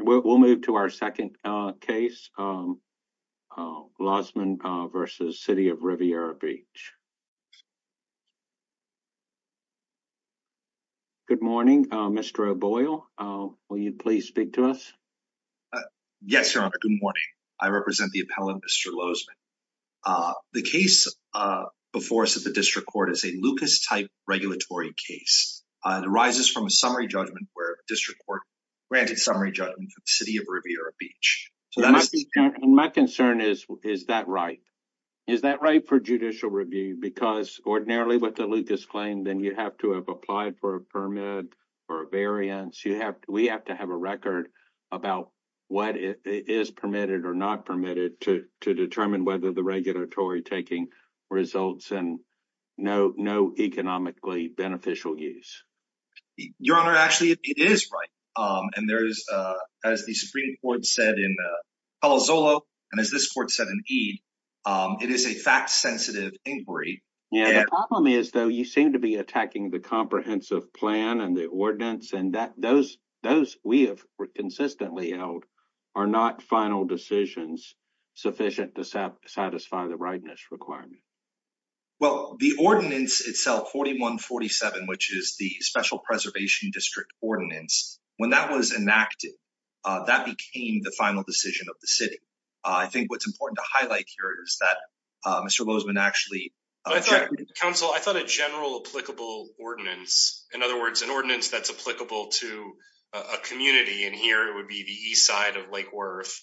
We'll move to our second case, Lozman v. City of Riviera Beach. Good morning, Mr. O'Boyle. Will you please speak to us? Yes, Your Honor. Good morning. I represent the appellant, Mr. Lozman. The case before us at the District Court is a Lucas-type regulatory case. It arises from a summary judgment where granted summary judgment for the City of Riviera Beach. My concern is, is that right? Is that right for judicial review? Because ordinarily with the Lucas claim, then you have to have applied for a permit or a variance. We have to have a record about what is permitted or not permitted to determine whether the regulatory taking results and no economically beneficial use. Your Honor, actually, it is right. And there's, as the Supreme Court said in Palo Zolo, and as this court said in Ede, it is a fact-sensitive inquiry. Yeah, the problem is, though, you seem to be attacking the comprehensive plan and the ordinance and that those we have consistently held are not final decisions sufficient to satisfy the requirement. Well, the ordinance itself, 4147, which is the Special Preservation District Ordinance, when that was enacted, that became the final decision of the City. I think what's important to highlight here is that Mr. Lozman actually... I thought a general applicable ordinance, in other words, an ordinance that's applicable to a community, and here it would be the east side of Lake Worth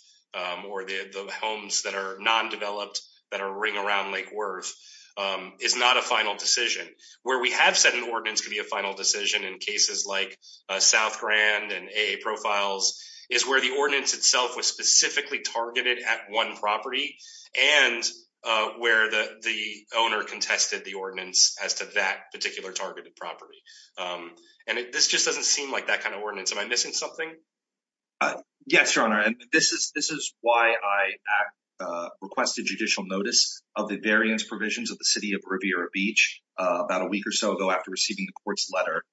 or the homes that are non-developed that are ring around Lake Worth, is not a final decision. Where we have said an ordinance could be a final decision in cases like South Grand and AA Profiles is where the ordinance itself was specifically targeted at one property and where the owner contested the ordinance as to that particular targeted property. And this just doesn't seem like that kind of ordinance. Am I missing something? Uh, yes, Your Honor. And this is why I requested judicial notice of the variance provisions of the City of Riviera Beach about a week or so ago after receiving the court's letter,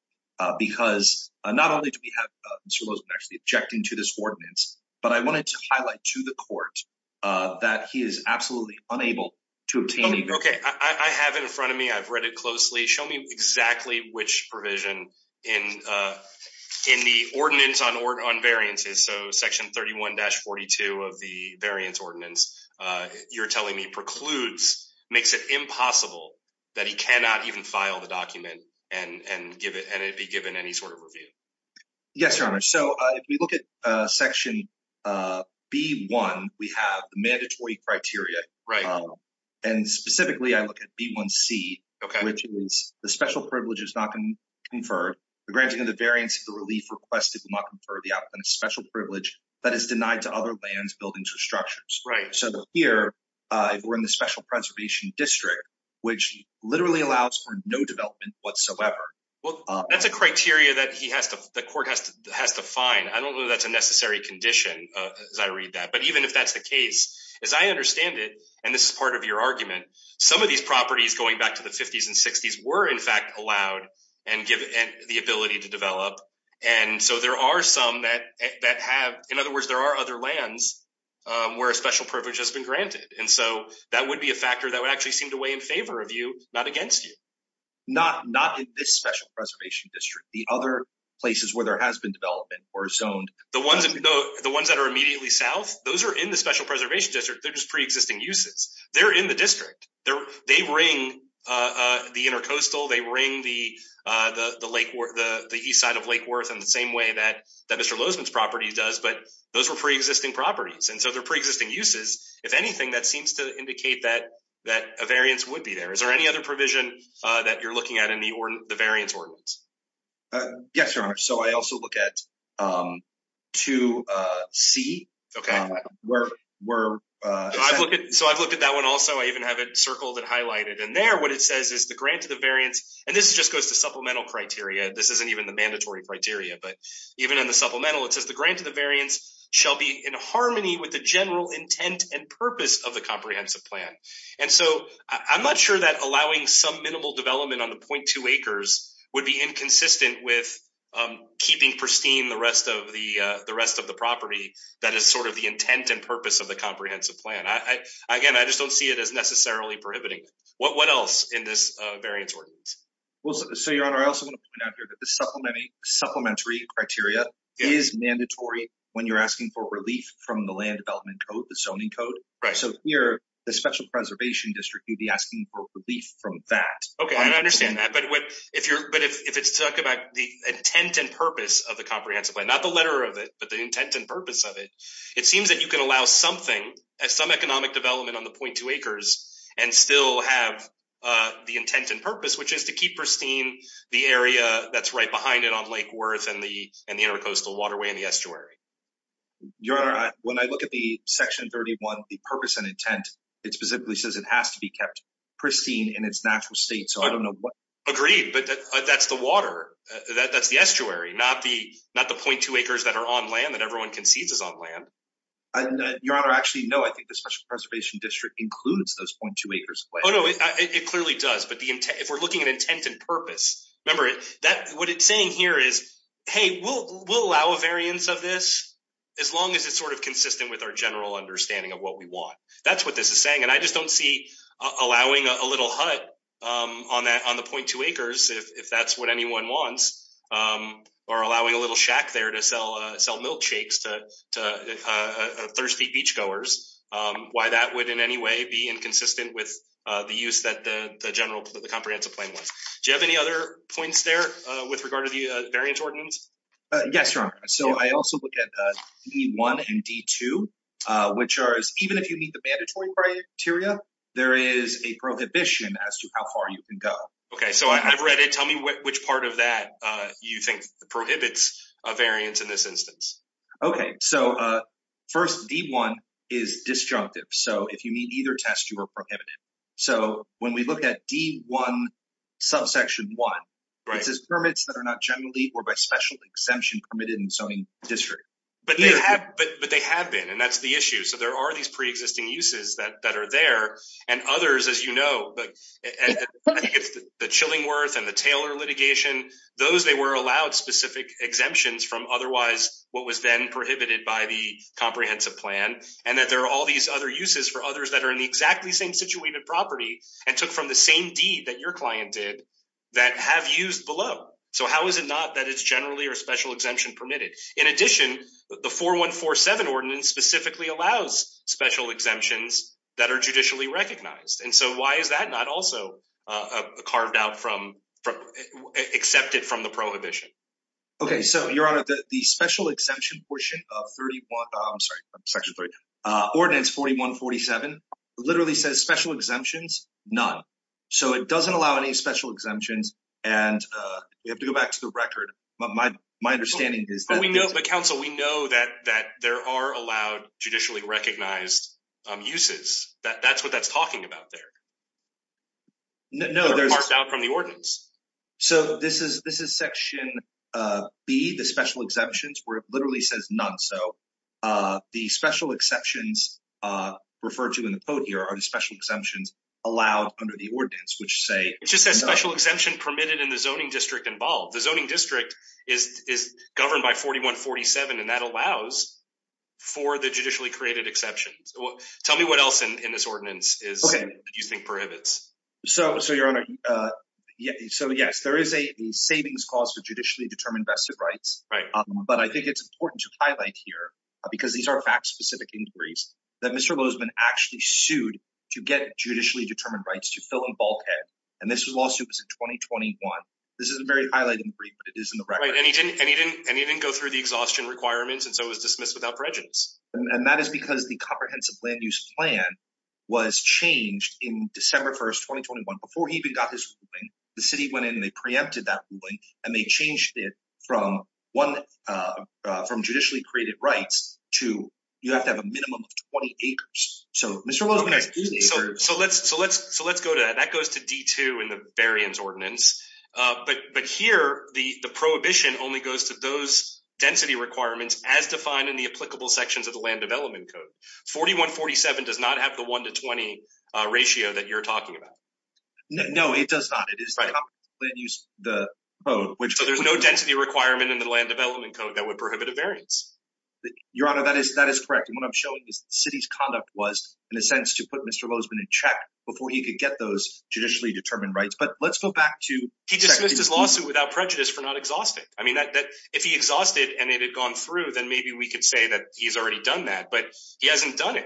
because not only do we have Mr. Lozman actually objecting to this ordinance, but I wanted to highlight to the court that he is absolutely unable to obtain... Okay, I have it in front of me. I've read it closely. Show me exactly which provision in in the ordinance on variances, so section 31-42 of the variance ordinance, you're telling me precludes, makes it impossible that he cannot even file the document and be given any sort of review. Yes, Your Honor. So if we look at section B-1, we have the mandatory criteria. Right. And specifically, I look at B-1C, which is the special privilege is not conferred. The granting of the variance of the relief requested will not confer the applicant a special privilege that is denied to other lands, buildings, or structures. Right. So here, we're in the special preservation district, which literally allows for no development whatsoever. Well, that's a criteria that he has to, the court has to find. I don't know that's a necessary condition as I read that. But even if that's the case, as I understand it, and this is part of your argument, some of these properties going back to the 50s and 60s were in fact allowed and given the ability to develop. And so there are some that have, in other words, there are other lands where a special privilege has been granted. And so that would be a factor that would actually seem to weigh in favor of you, not against you. Not in this special preservation district. The other places where there has been development or zoned. The ones that are immediately south, those are in the special preservation district. They're just existing uses. They're in the district. They ring the intercoastal, they ring the east side of Lake Worth in the same way that Mr. Lozman's property does, but those were pre-existing properties. And so they're pre-existing uses. If anything, that seems to indicate that a variance would be there. Is there any other provision that you're looking at in the variance ordinance? Yes, your honor. So I also look at 2C. So I've looked at that one also. I even have it circled and highlighted. And there, what it says is the grant of the variance, and this just goes to supplemental criteria. This isn't even the mandatory criteria, but even in the supplemental, it says the grant of the variance shall be in harmony with the general intent and purpose of the comprehensive plan. And so I'm not sure that allowing some minimal development on the 0.2 acres would be inconsistent with keeping pristine the rest of the property that is sort of the intent and purpose of the comprehensive plan. Again, I just don't see it as necessarily prohibiting. What else in this variance ordinance? Well, so your honor, I also want to point out here that the supplementary criteria is mandatory when you're asking for relief from the land development code, the zoning code. So here, the special preservation district would be asking for relief from that. Okay, I understand that. But if it's talking about the intent and purpose of the comprehensive plan, not the letter of it, but the intent and purpose of it, it seems that you can allow something, some economic development on the 0.2 acres and still have the intent and purpose, which is to keep pristine the area that's right behind it on Lake Worth and the intercoastal waterway and the estuary. Your honor, when I look at the section 31, the purpose and intent, it specifically says it has to be kept pristine in its natural state, so I don't know what. Agreed, but that's the water, that's the estuary, not the 0.2 acres that are on land that everyone concedes is on land. Your honor, actually, no, I think the special preservation district includes those 0.2 acres. Oh, no, it clearly does. But if we're looking at intent and purpose, remember, what it's saying here is, hey, we'll allow a variance of this as long as it's sort of consistent with our general understanding of what we want. That's what this is saying, and I just don't see allowing a little hut on the 0.2 acres, if that's what anyone wants, or allowing a little shack there to sell milkshakes to thirsty beachgoers, why that would in any way be inconsistent with the use that the general, the comprehensive plan was. Do you have any other points there with regard to the variance ordinance? Yes, your honor, so I also look at D1 and D2, which are, even if you meet the mandatory criteria, there is a prohibition as to how far you can go. Okay, so I've read it, tell me which part of that you think prohibits a variance in this instance? Okay, so first, D1 is disjunctive, so if you meet either test, you are prohibited. So when we look at D1 subsection one, it says permits that are not generally or by special exemption permitted in zoning district. But they have been, and that's the issue. So there are these pre-existing uses that are there, and others, as you know, the Chillingworth and the Taylor litigation, those they were allowed specific exemptions from otherwise what was then prohibited by the comprehensive plan, and that there are all these other uses for others that are in the exactly same situated property and took from the same deed that your client did that have used below. So how is it not that it's or special exemption permitted? In addition, the 4147 ordinance specifically allows special exemptions that are judicially recognized. And so why is that not also carved out from, accepted from the prohibition? Okay, so your honor, the special exemption portion of 31, I'm sorry, section three, ordinance 4147 literally says special exemptions, none. So it doesn't allow any special exemptions. And we have to go back to the record. But my, my understanding is that we know the council, we know that, that there are allowed judicially recognized uses that that's what that's talking about there. No, there's out from the ordinance. So this is, this is section B, the special exemptions where it literally says none. So the special exceptions referred to in the code here are the special exemptions allowed under the ordinance, which say it just says special exemption permitted in the zoning district involved. The zoning district is, is governed by 4147. And that allows for the judicially created exceptions. Tell me what else in this ordinance is, do you think prohibits? So, so your honor, so yes, there is a savings cause for judicially determined vested rights, but I think it's important to highlight here because these are fact specific inquiries that Mr. Bozeman actually sued to get judicially determined rights to fill in bulkhead. And this was lawsuit was in 2021. This isn't very highlighted in the brief, but it is in the record. And he didn't, and he didn't, and he didn't go through the exhaustion requirements. And so it was dismissed without prejudice. And that is because the comprehensive land use plan was changed in December 1st, 2021, before he even got his ruling, the city went in and they and they changed it from one from judicially created rights to you have to have a minimum of 20 acres. So Mr. Bozeman. So let's, so let's, so let's go to that. That goes to D2 in the variance ordinance. But, but here the prohibition only goes to those density requirements as defined in the applicable sections of the land development code. 4147 does not have the one to 20 ratio that you're talking about. No, it does not. It is the land use the vote, which there's no density requirement in the land development code that would prohibit a variance. Your honor. That is, that is correct. And what I'm showing is the city's conduct was in a sense to put Mr. Bozeman in check before he could get those judicially determined rights. But let's go back to, he just missed his lawsuit without prejudice for not exhausted. I mean, that, that if he exhausted and it had gone through, then maybe we could say that he's already done that, but he hasn't done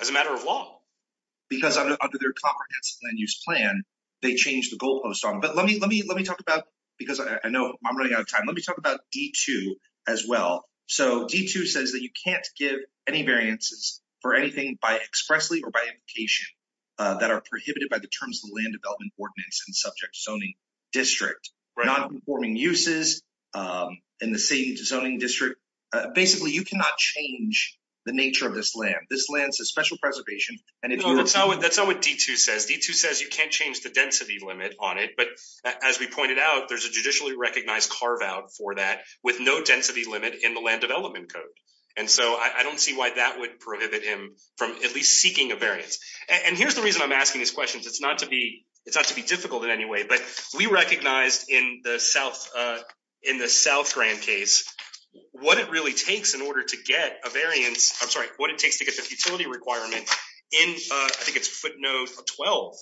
as a matter of law. Because under their comprehensive land use plan, they changed the goalpost on, but let me, let me, let me talk about, because I know I'm running out of time. Let me talk about D2 as well. So D2 says that you can't give any variances for anything by expressly or by implication that are prohibited by the terms of the land development ordinance and subject zoning district, non-conforming uses in the city zoning district. Basically you cannot change the nature of this land. This land is a special preservation. And if you're- No, that's not what, that's not what D2 says. D2 says you can't change the density limit on it, but as we pointed out, there's a judicially recognized carve out for that with no density limit in the land development code. And so I don't see why that would prohibit him from at least seeking a variance. And here's the reason I'm asking these questions. It's not to be, it's not to be difficult in any way, but we recognized in the South, in the South Grand case, what it really takes in order to get a variance, I'm sorry, what it takes to get the futility requirement in, I think it's footnote 12.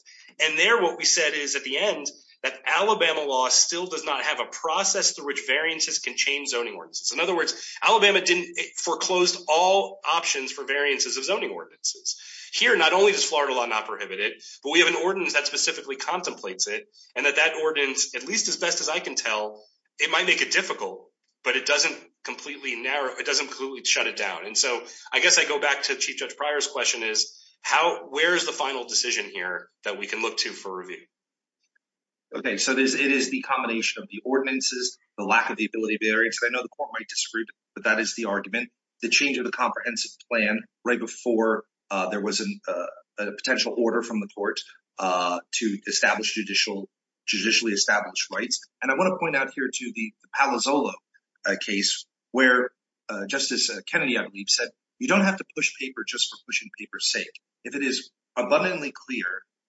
And there, what we said is at the end that Alabama law still does not have a process through which variances can change zoning ordinances. In other words, Alabama didn't foreclosed all options for variances of zoning ordinances. Here, not only does Florida law not prohibit it, but we have an ordinance that specifically contemplates it. And that that ordinance, at least as best as I can tell, it might make it difficult, but it doesn't completely narrow, it doesn't completely shut it down. And so I guess I go back to Chief Judge Pryor's question is how, where's the final decision here that we can look to for review? Okay, so there's, it is the combination of the ordinances, the lack of the ability of variance. I know the court might disagree but that is the argument. The change of the comprehensive plan right before there was a potential order from the court to establish judicial, judicially established rights. And I just as Kennedy I believe said, you don't have to push paper just for pushing paper's sake. If it is abundantly clear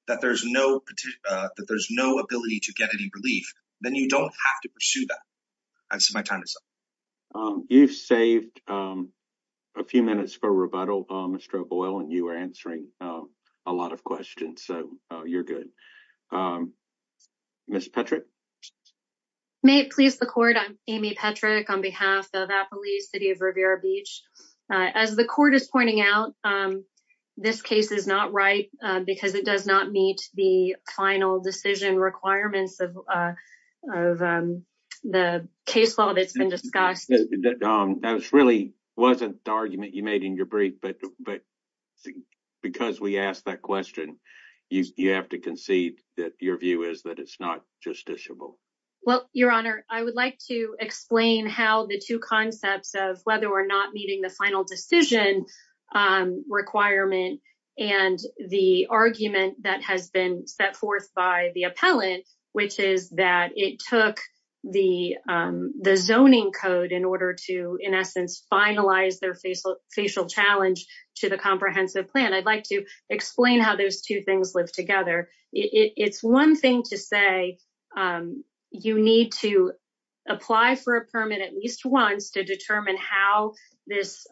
that there's no ability to get any relief, then you don't have to pursue that. I've said my time is up. You've saved a few minutes for rebuttal, Mr. O'Boyle, and you were answering a lot of questions, so you're good. Ms. Petrick? May it please the court, I'm Amy Petrick on behalf of Appalachia City of Rivera Beach. As the court is pointing out, this case is not right because it does not meet the final decision requirements of the case law that's been discussed. That really wasn't the argument you made in your brief, but because we asked that question, you have to concede that your view is that it's not justiciable. Well, your honor, I would like to explain how the two concepts of whether or not meeting the final decision requirement and the argument that has been set forth by the appellant, which is that it took the zoning code in order to, in essence, finalize their facial challenge to the comprehensive plan. I'd like to explain how those two things live together. It's one thing to say you need to apply for a permit at least once to determine how this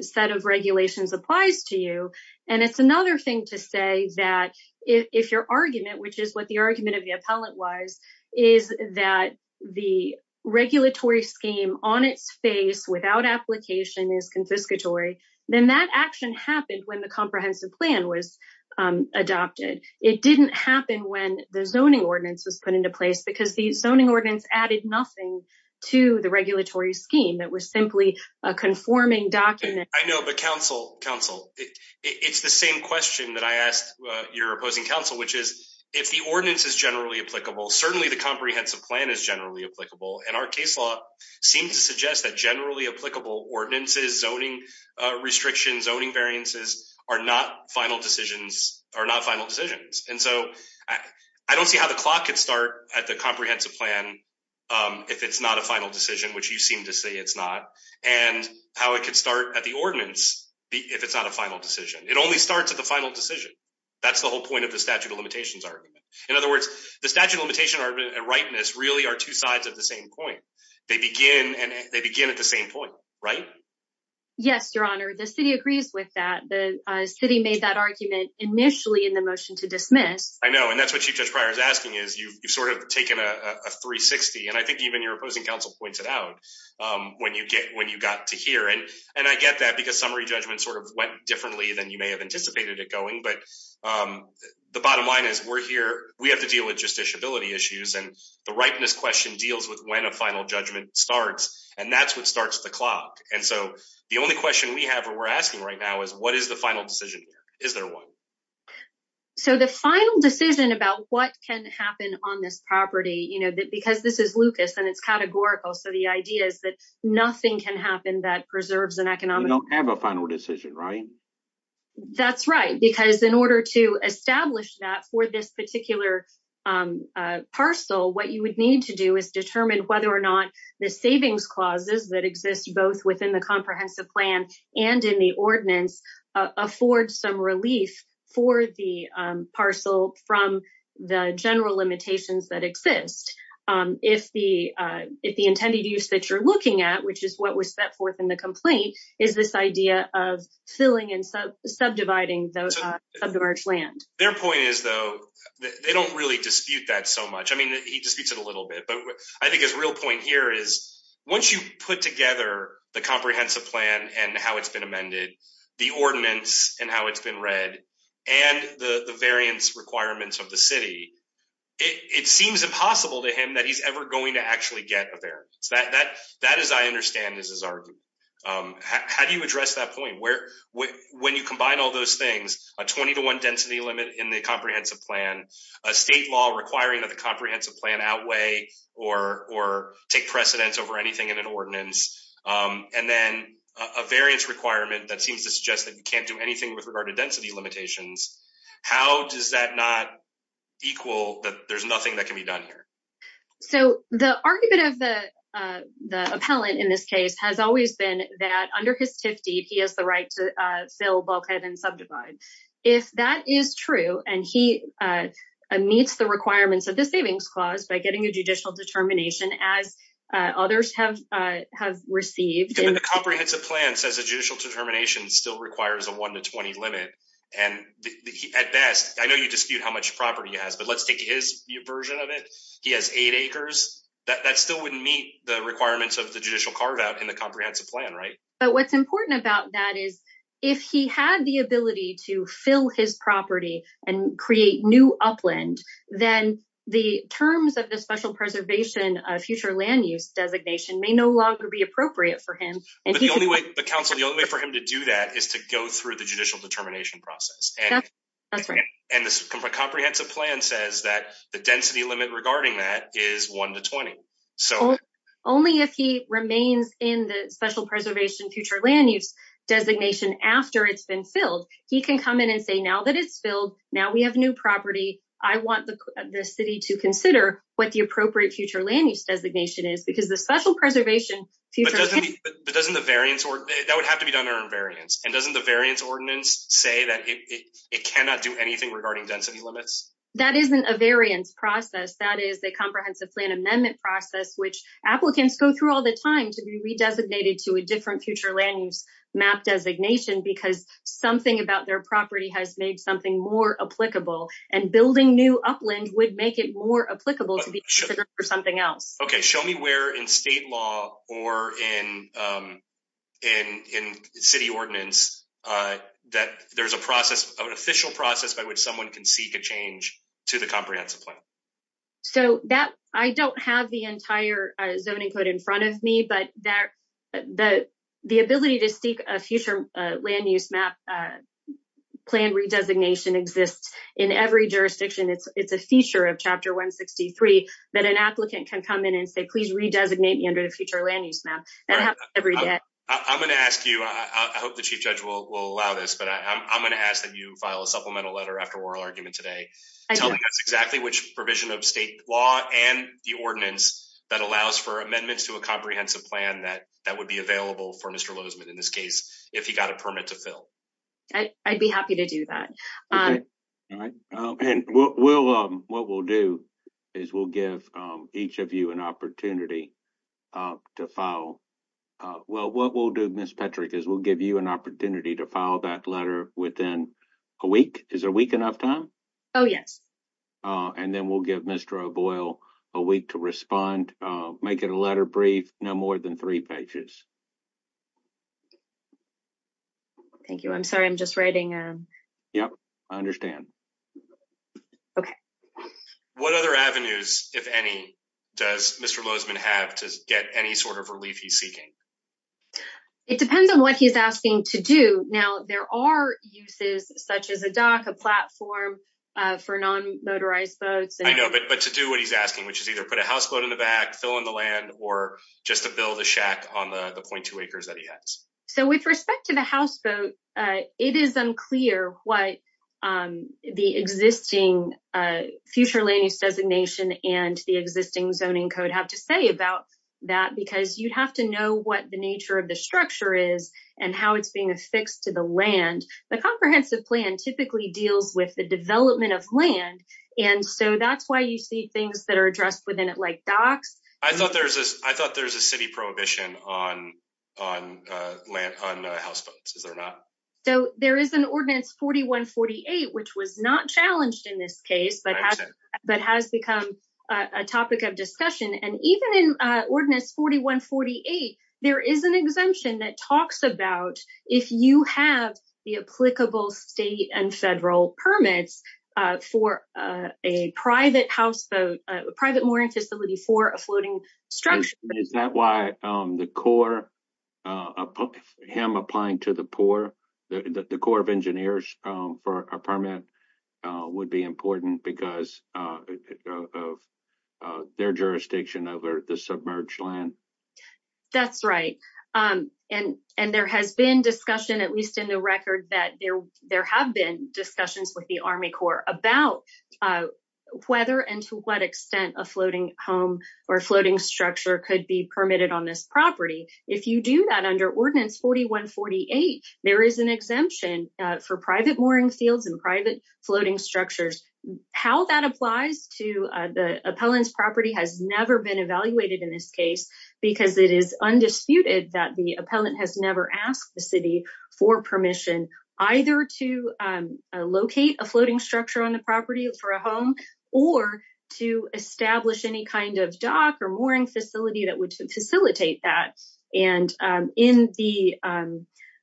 set of regulations applies to you, and it's another thing to say that if your argument, which is what the argument of the appellant was, is that the regulatory scheme on its face without application is confiscatory, then that action happened when the comprehensive plan was adopted. It didn't happen when the zoning ordinance was put into place because the zoning ordinance added nothing to the regulatory scheme. It was simply a conforming document. I know, but counsel, it's the same question that I asked your opposing counsel, which is if the ordinance is generally applicable, certainly the comprehensive plan is generally applicable, and our case law seems to suggest that generally applicable ordinances, zoning restrictions, zoning variances, are not final decisions. I don't see how the clock could start at the comprehensive plan if it's not a final decision, which you seem to say it's not, and how it could start at the ordinance if it's not a final decision. It only starts at the final decision. That's the whole point of the statute of limitations argument. In other words, the statute of limitation argument and rightness really are two sides of the same coin. They begin at the same point, right? Yes, your honor. The city agrees with that. The city made that argument initially in the motion to dismiss. I know, and that's what Chief Judge Pryor is asking, is you've sort of taken a 360, and I think even your opposing counsel pointed out when you got to here, and I get that because summary judgment sort of went differently than you may have anticipated it going, but the bottom line is we're here. We have to deal with justiciability issues, and rightness question deals with when a final judgment starts, and that's what starts the clock, and so the only question we have or we're asking right now is what is the final decision? Is there one? So the final decision about what can happen on this property, you know, because this is Lucas, and it's categorical, so the idea is that nothing can happen that preserves an economic... You don't have a final decision, right? That's right, because in order to establish that for this particular parcel, what you would need to do is determine whether or not the savings clauses that exist both within the comprehensive plan and in the ordinance afford some relief for the parcel from the general limitations that exist. If the intended use that you're looking at, which is what was set forth in the complaint, is this idea of filling and subdividing the submerged land? Their point is, though, they don't really dispute that so much. I mean, he disputes it a little bit, but I think his real point here is once you put together the comprehensive plan and how it's been amended, the ordinance and how it's been read, and the variance requirements of the city, it seems impossible to him that he's ever going to actually get a variance. That, as I understand, is his argument. How do you address that point? When you combine all those things, a 20 to 1 density limit in the comprehensive plan, a state law requiring that the comprehensive plan outweigh or take precedence over anything in an ordinance, and then a variance requirement that seems to suggest that you can't do anything with regard to density limitations, how does that not equal that there's nothing that can be done here? So, the argument of the appellant in this case has always been that under his TIF deed, he has right to fill bulkhead and subdivide. If that is true, and he meets the requirements of the savings clause by getting a judicial determination, as others have received. The comprehensive plan says a judicial determination still requires a 1 to 20 limit, and at best, I know you dispute how much property he has, but let's take his version of it. He has eight acres. That still wouldn't meet the requirements of the judicial carve-out in the comprehensive plan, right? But what's important about that is if he had the ability to fill his property and create new upland, then the terms of the special preservation of future land use designation may no longer be appropriate for him. The only way for him to do that is to go through the judicial determination process, and the comprehensive plan says that the density limit in the special preservation future land use designation after it's been filled, he can come in and say, now that it's filled, now we have new property, I want the city to consider what the appropriate future land use designation is, because the special preservation... But doesn't the variance, that would have to be done under variance, and doesn't the variance ordinance say that it cannot do anything regarding density limits? That isn't a variance process. That is the comprehensive plan amendment process, which applicants go through all the time to be re-designated to a different future land use map designation, because something about their property has made something more applicable, and building new upland would make it more applicable to be considered for something else. Okay, show me where in state law or in city ordinance that there's a process, an official process by which someone can seek a change to the comprehensive plan. So, I don't have the entire zoning code in front of me, but the ability to seek a future land use map plan re-designation exists in every jurisdiction. It's a feature of Chapter 163 that an applicant can come in and say, please re-designate me under the future land use map. I'm going to ask you, I hope the Chief Judge will allow this, but I'm going to ask that you file a supplemental letter after oral argument today telling us exactly which provision of state law and the ordinance that allows for amendments to a comprehensive plan that would be available for Mr. Lozman, in this case, if he got a permit to fill. I'd be happy to do that. What we'll do is we'll give each of you an opportunity to file. Well, what we'll do, is we'll give you an opportunity to file that letter within a week. Is a week enough time? Oh, yes. And then we'll give Mr. O'Boyle a week to respond, make it a letter brief, no more than three pages. Thank you. I'm sorry, I'm just writing. Yep, I understand. Okay. What other avenues, if any, does Mr. Lozman have to get any sort of relief he's seeking? It depends on what he's asking to do. Now, there are uses such as a dock, a platform for non-motorized boats. I know, but to do what he's asking, which is either put a houseboat in the back, fill in the land, or just to build a shack on the 0.2 acres that he has. So with respect to the houseboat, it is unclear what the existing future land use designation and the existing zoning code have to say about that, because you'd have to know what the nature of the structure is and how it's being affixed to the land. The comprehensive plan typically deals with the development of land, and so that's why you see things that are addressed within it, like docks. I thought there's a city prohibition on houseboats, is there not? So there is an ordinance 4148, which was not challenged in this case, but has become a topic of discussion. And even in ordinance 4148, there is an exemption that talks about if you have the applicable state and federal permits for a private houseboat, a private mooring facility for a floating structure. Is that why the Corps, him applying to the Corps, the Corps of Engineers for a permit would be important because of their jurisdiction over the submerged land? That's right. And there has been discussion, at least in the record, that there have been discussions with the Army Corps about whether and to what extent a floating home or floating structure could be permitted on this property. If you do that under ordinance 4148, there is exemption for private mooring fields and private floating structures. How that applies to the appellant's property has never been evaluated in this case, because it is undisputed that the appellant has never asked the city for permission either to locate a floating structure on the property for a home or to establish any kind of dock or mooring facility that would facilitate that. And in the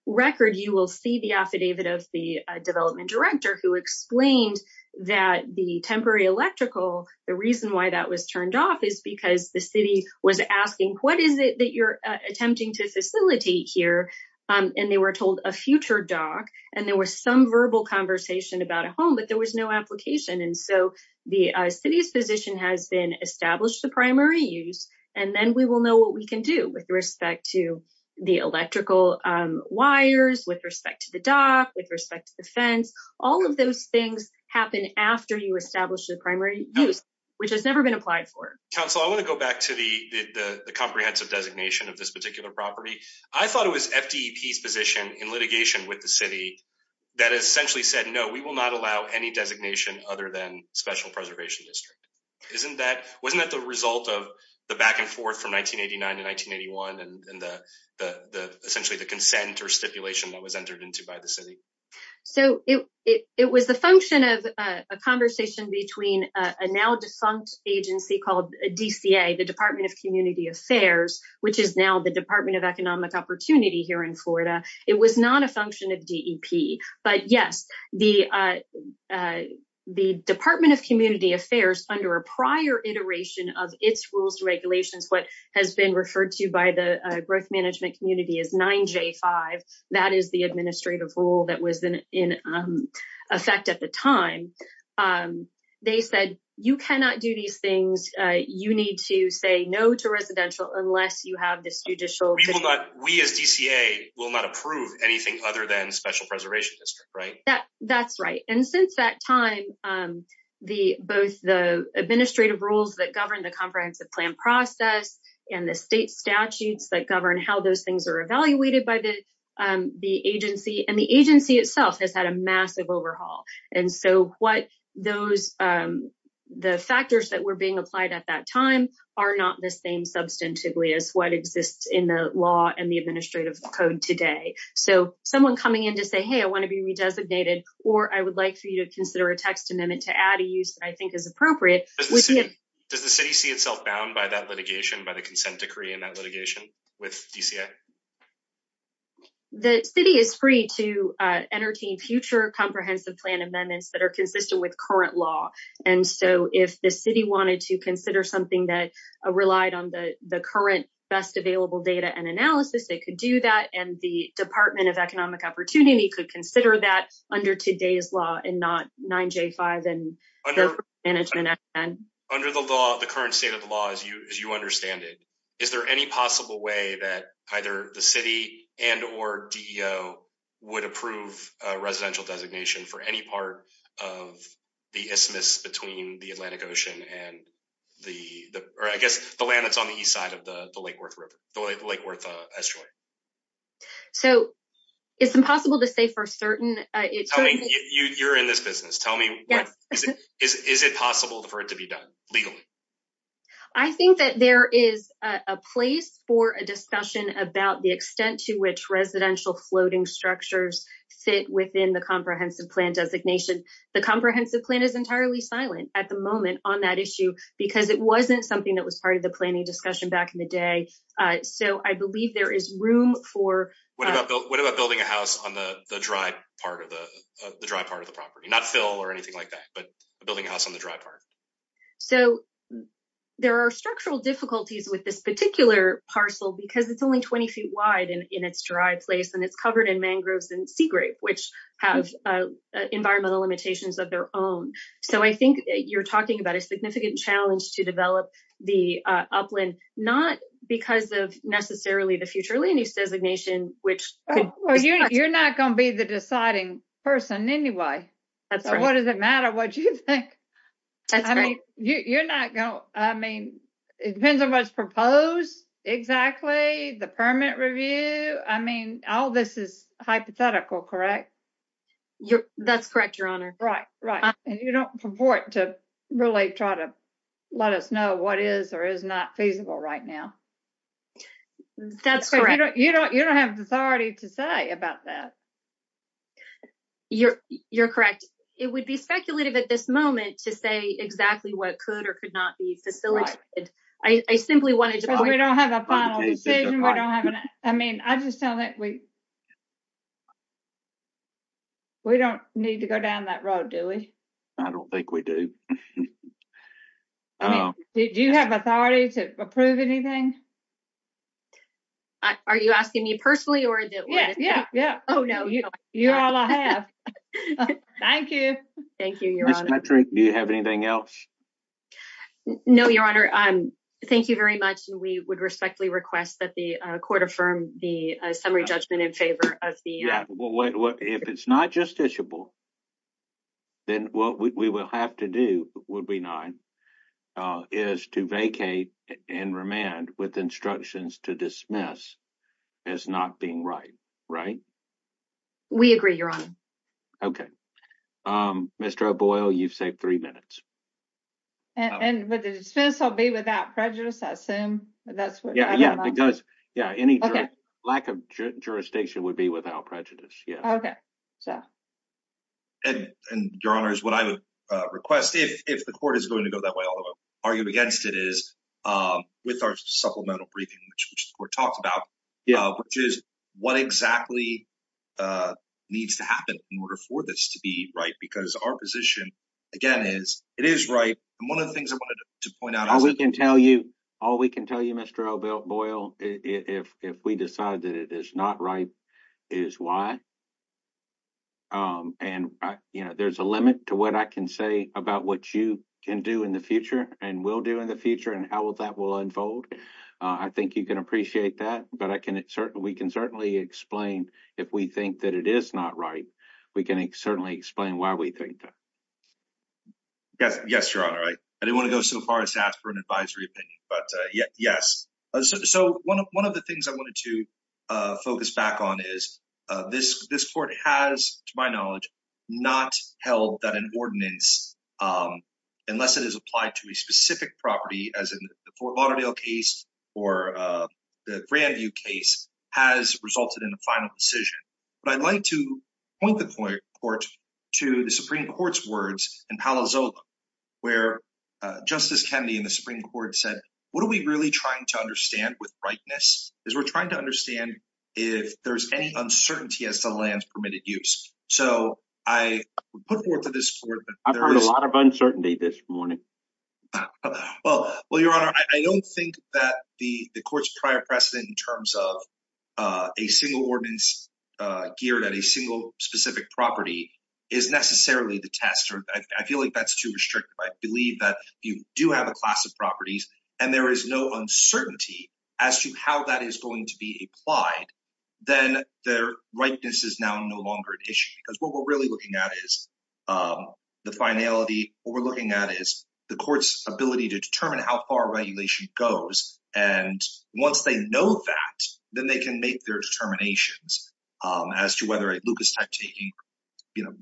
record, you will see the affidavit of the development director who explained that the temporary electrical, the reason why that was turned off is because the city was asking, what is it that you're attempting to facilitate here? And they were told a future dock, and there was some verbal conversation about a home, there was no application. And so the city's position has been establish the primary use, and then we will know what we can do with respect to the electrical wires, with respect to the dock, with respect to the fence. All of those things happen after you establish the primary use, which has never been applied for. Counsel, I want to go back to the comprehensive designation of this particular property. I thought it was FDEP's position in litigation with the city that essentially said, no, we will not allow any designation other than special preservation district. Wasn't that the result of the back and forth from 1989 to 1981 and essentially the consent or stipulation that was entered into by the city? So it was the function of a conversation between a now defunct agency called DCA, the Department of Community Affairs, which is now the Department of Economic Opportunity here in Florida. It was not a function of DEP, but yes, the Department of Community Affairs under a prior iteration of its rules and regulations, what has been referred to by the growth management community as 9J5, that is the administrative rule that was in effect at the time. They said, you cannot do these things. You need to say no to residential unless you have this We as DCA will not approve anything other than special preservation district, right? That's right. And since that time, both the administrative rules that govern the comprehensive plan process and the state statutes that govern how those things are evaluated by the agency, and the agency itself has had a massive overhaul. And so the factors that were being applied at time are not the same substantively as what exists in the law and the administrative code today. So someone coming in to say, hey, I want to be redesignated, or I would like for you to consider a text amendment to add a use that I think is appropriate. Does the city see itself bound by that litigation by the consent decree in that litigation with DCA? The city is free to entertain future comprehensive plan amendments that are something that relied on the current best available data and analysis. They could do that. And the Department of Economic Opportunity could consider that under today's law and not 9J5. Under the law, the current state of the law, as you understand it, is there any possible way that either the city and or DEO would approve a residential designation for any part of the isthmus between the Atlantic Ocean and the, or I guess the land that's on the east side of the Lake Worth Estuary? So it's impossible to say for certain. You're in this business. Tell me, is it possible for it to be done legally? I think that there is a place for a discussion about the extent to which residential floating structures fit within the comprehensive plan designation. The comprehensive plan is entirely silent at the moment on that issue because it wasn't something that was part of the planning discussion back in the day. So I believe there is room for- What about building a house on the dry part of the property? Not fill or anything like that, but building a house on the dry part. So there are structural difficulties with this particular parcel because it's only 20 feet wide in its dry place and it's covered in mangroves and sea grape, which have environmental limitations of their own. So I think you're talking about a significant challenge to develop the upland, not because of necessarily the future land use designation, which- You're not going to be the deciding person anyway. That's right. What does it matter what you think? That's right. You're not I mean, all this is hypothetical, correct? That's correct, Your Honor. Right, right. And you don't purport to really try to let us know what is or is not feasible right now. That's correct. You don't have the authority to say about that. You're correct. It would be speculative at this moment to say exactly what could or could not be facilitated. I simply wanted to- Because we don't have a final decision. We don't have an- I mean, I just don't think we- We don't need to go down that road, do we? I don't think we do. Do you have authority to approve anything? Are you asking me personally or- Yeah, yeah, yeah. Oh, no. You're all I have. Thank you. Thank you, Your Honor. Ms. Patrick, do you have anything else? No, Your Honor. Thank you very much. We would respectfully request that the court affirm the summary judgment in favor of the- Yeah. Well, if it's not justiciable, then what we will have to do, would we not, is to vacate and remand with instructions to dismiss as not being right, right? We agree, Your Honor. Okay. Mr. O'Boyle, you've saved three minutes. And would the dismissal be without prejudice, I assume? That's what- Yeah, yeah. Because, yeah, any- Okay. Lack of jurisdiction would be without prejudice. Yeah. Okay. So- And, Your Honor, is what I would request, if the court is going to go that way, although I've argued against it, is with our supplemental briefing, which the court talked about, which is what exactly needs to happen in order for this to be right? Because our position, again, is it is right. And one of the things I wanted to point out- All we can tell you, Mr. O'Boyle, if we decide that it is not right, is why. And, you know, there's a limit to what I can say about what you can do in the future, and will do in the future, and how that will unfold. I think you can appreciate that, but we can certainly explain, if we think that it is not right, we can certainly explain why we think that. Yes, Your Honor. I didn't want to go so far as to ask for an advisory opinion, but yes. So, one of the things I wanted to focus back on is, this court has, to my knowledge, not held that an ordinance, unless it is applied to a specific property, as in the Fort Lauderdale case, or the Grandview case, has resulted in a final decision. But I'd like to point the court to the Supreme Court's words in Palo Alto, where Justice Kennedy in the Supreme Court said, what are we really trying to understand with rightness? Is we're trying to understand if there's any uncertainty as to the land's permitted use. So, I put forth to this court- I've heard a lot of uncertainty this morning. Well, Your Honor, I don't think that the court's prior precedent in terms of a single ordinance geared at a single specific property is necessarily the test. I feel like that's too restrictive. I believe that if you do have a class of properties and there is no uncertainty as to how that is going to be applied, then their rightness is now no longer an issue. Because what we're really looking at is the finality. What we're looking at is the court's ability to determine how far regulation goes. And once they know that, then they can make their determinations as to whether a Lucas-type taking, you know,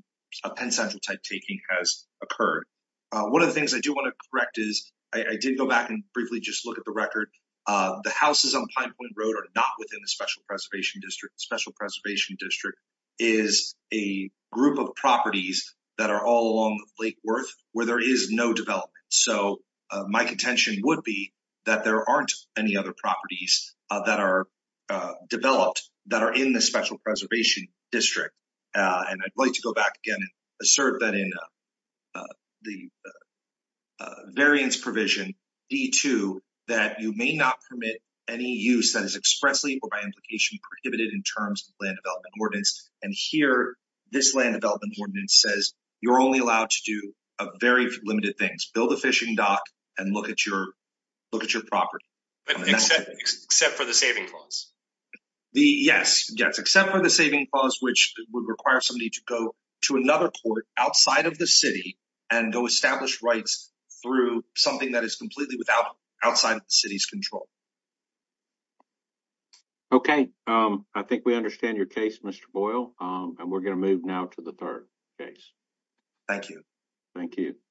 a Penn Central-type taking has occurred. One of the things I do want to correct is, I did go back and briefly just look at the record, the houses on Pine Point Road are not within the Special Preservation District. Special Preservation District is a group of properties that are all along Lake Worth where there is no development. So my contention would be that there aren't any other properties that are developed that are in the Special Preservation District. And I'd like to go back again and assert that in the variance provision D-2, that you may not permit any use that is expressly or by implication prohibited in terms of land development ordinance. And here, this land ordinance says you're only allowed to do very limited things. Build a fishing dock and look at your property. But except for the saving clause? Yes, except for the saving clause, which would require somebody to go to another court outside of the city and go establish rights through something that is completely outside the city's control. Okay, I think we understand your case, Mr. Boyle, and we're going to move now to the third case. Thank you. Thank you.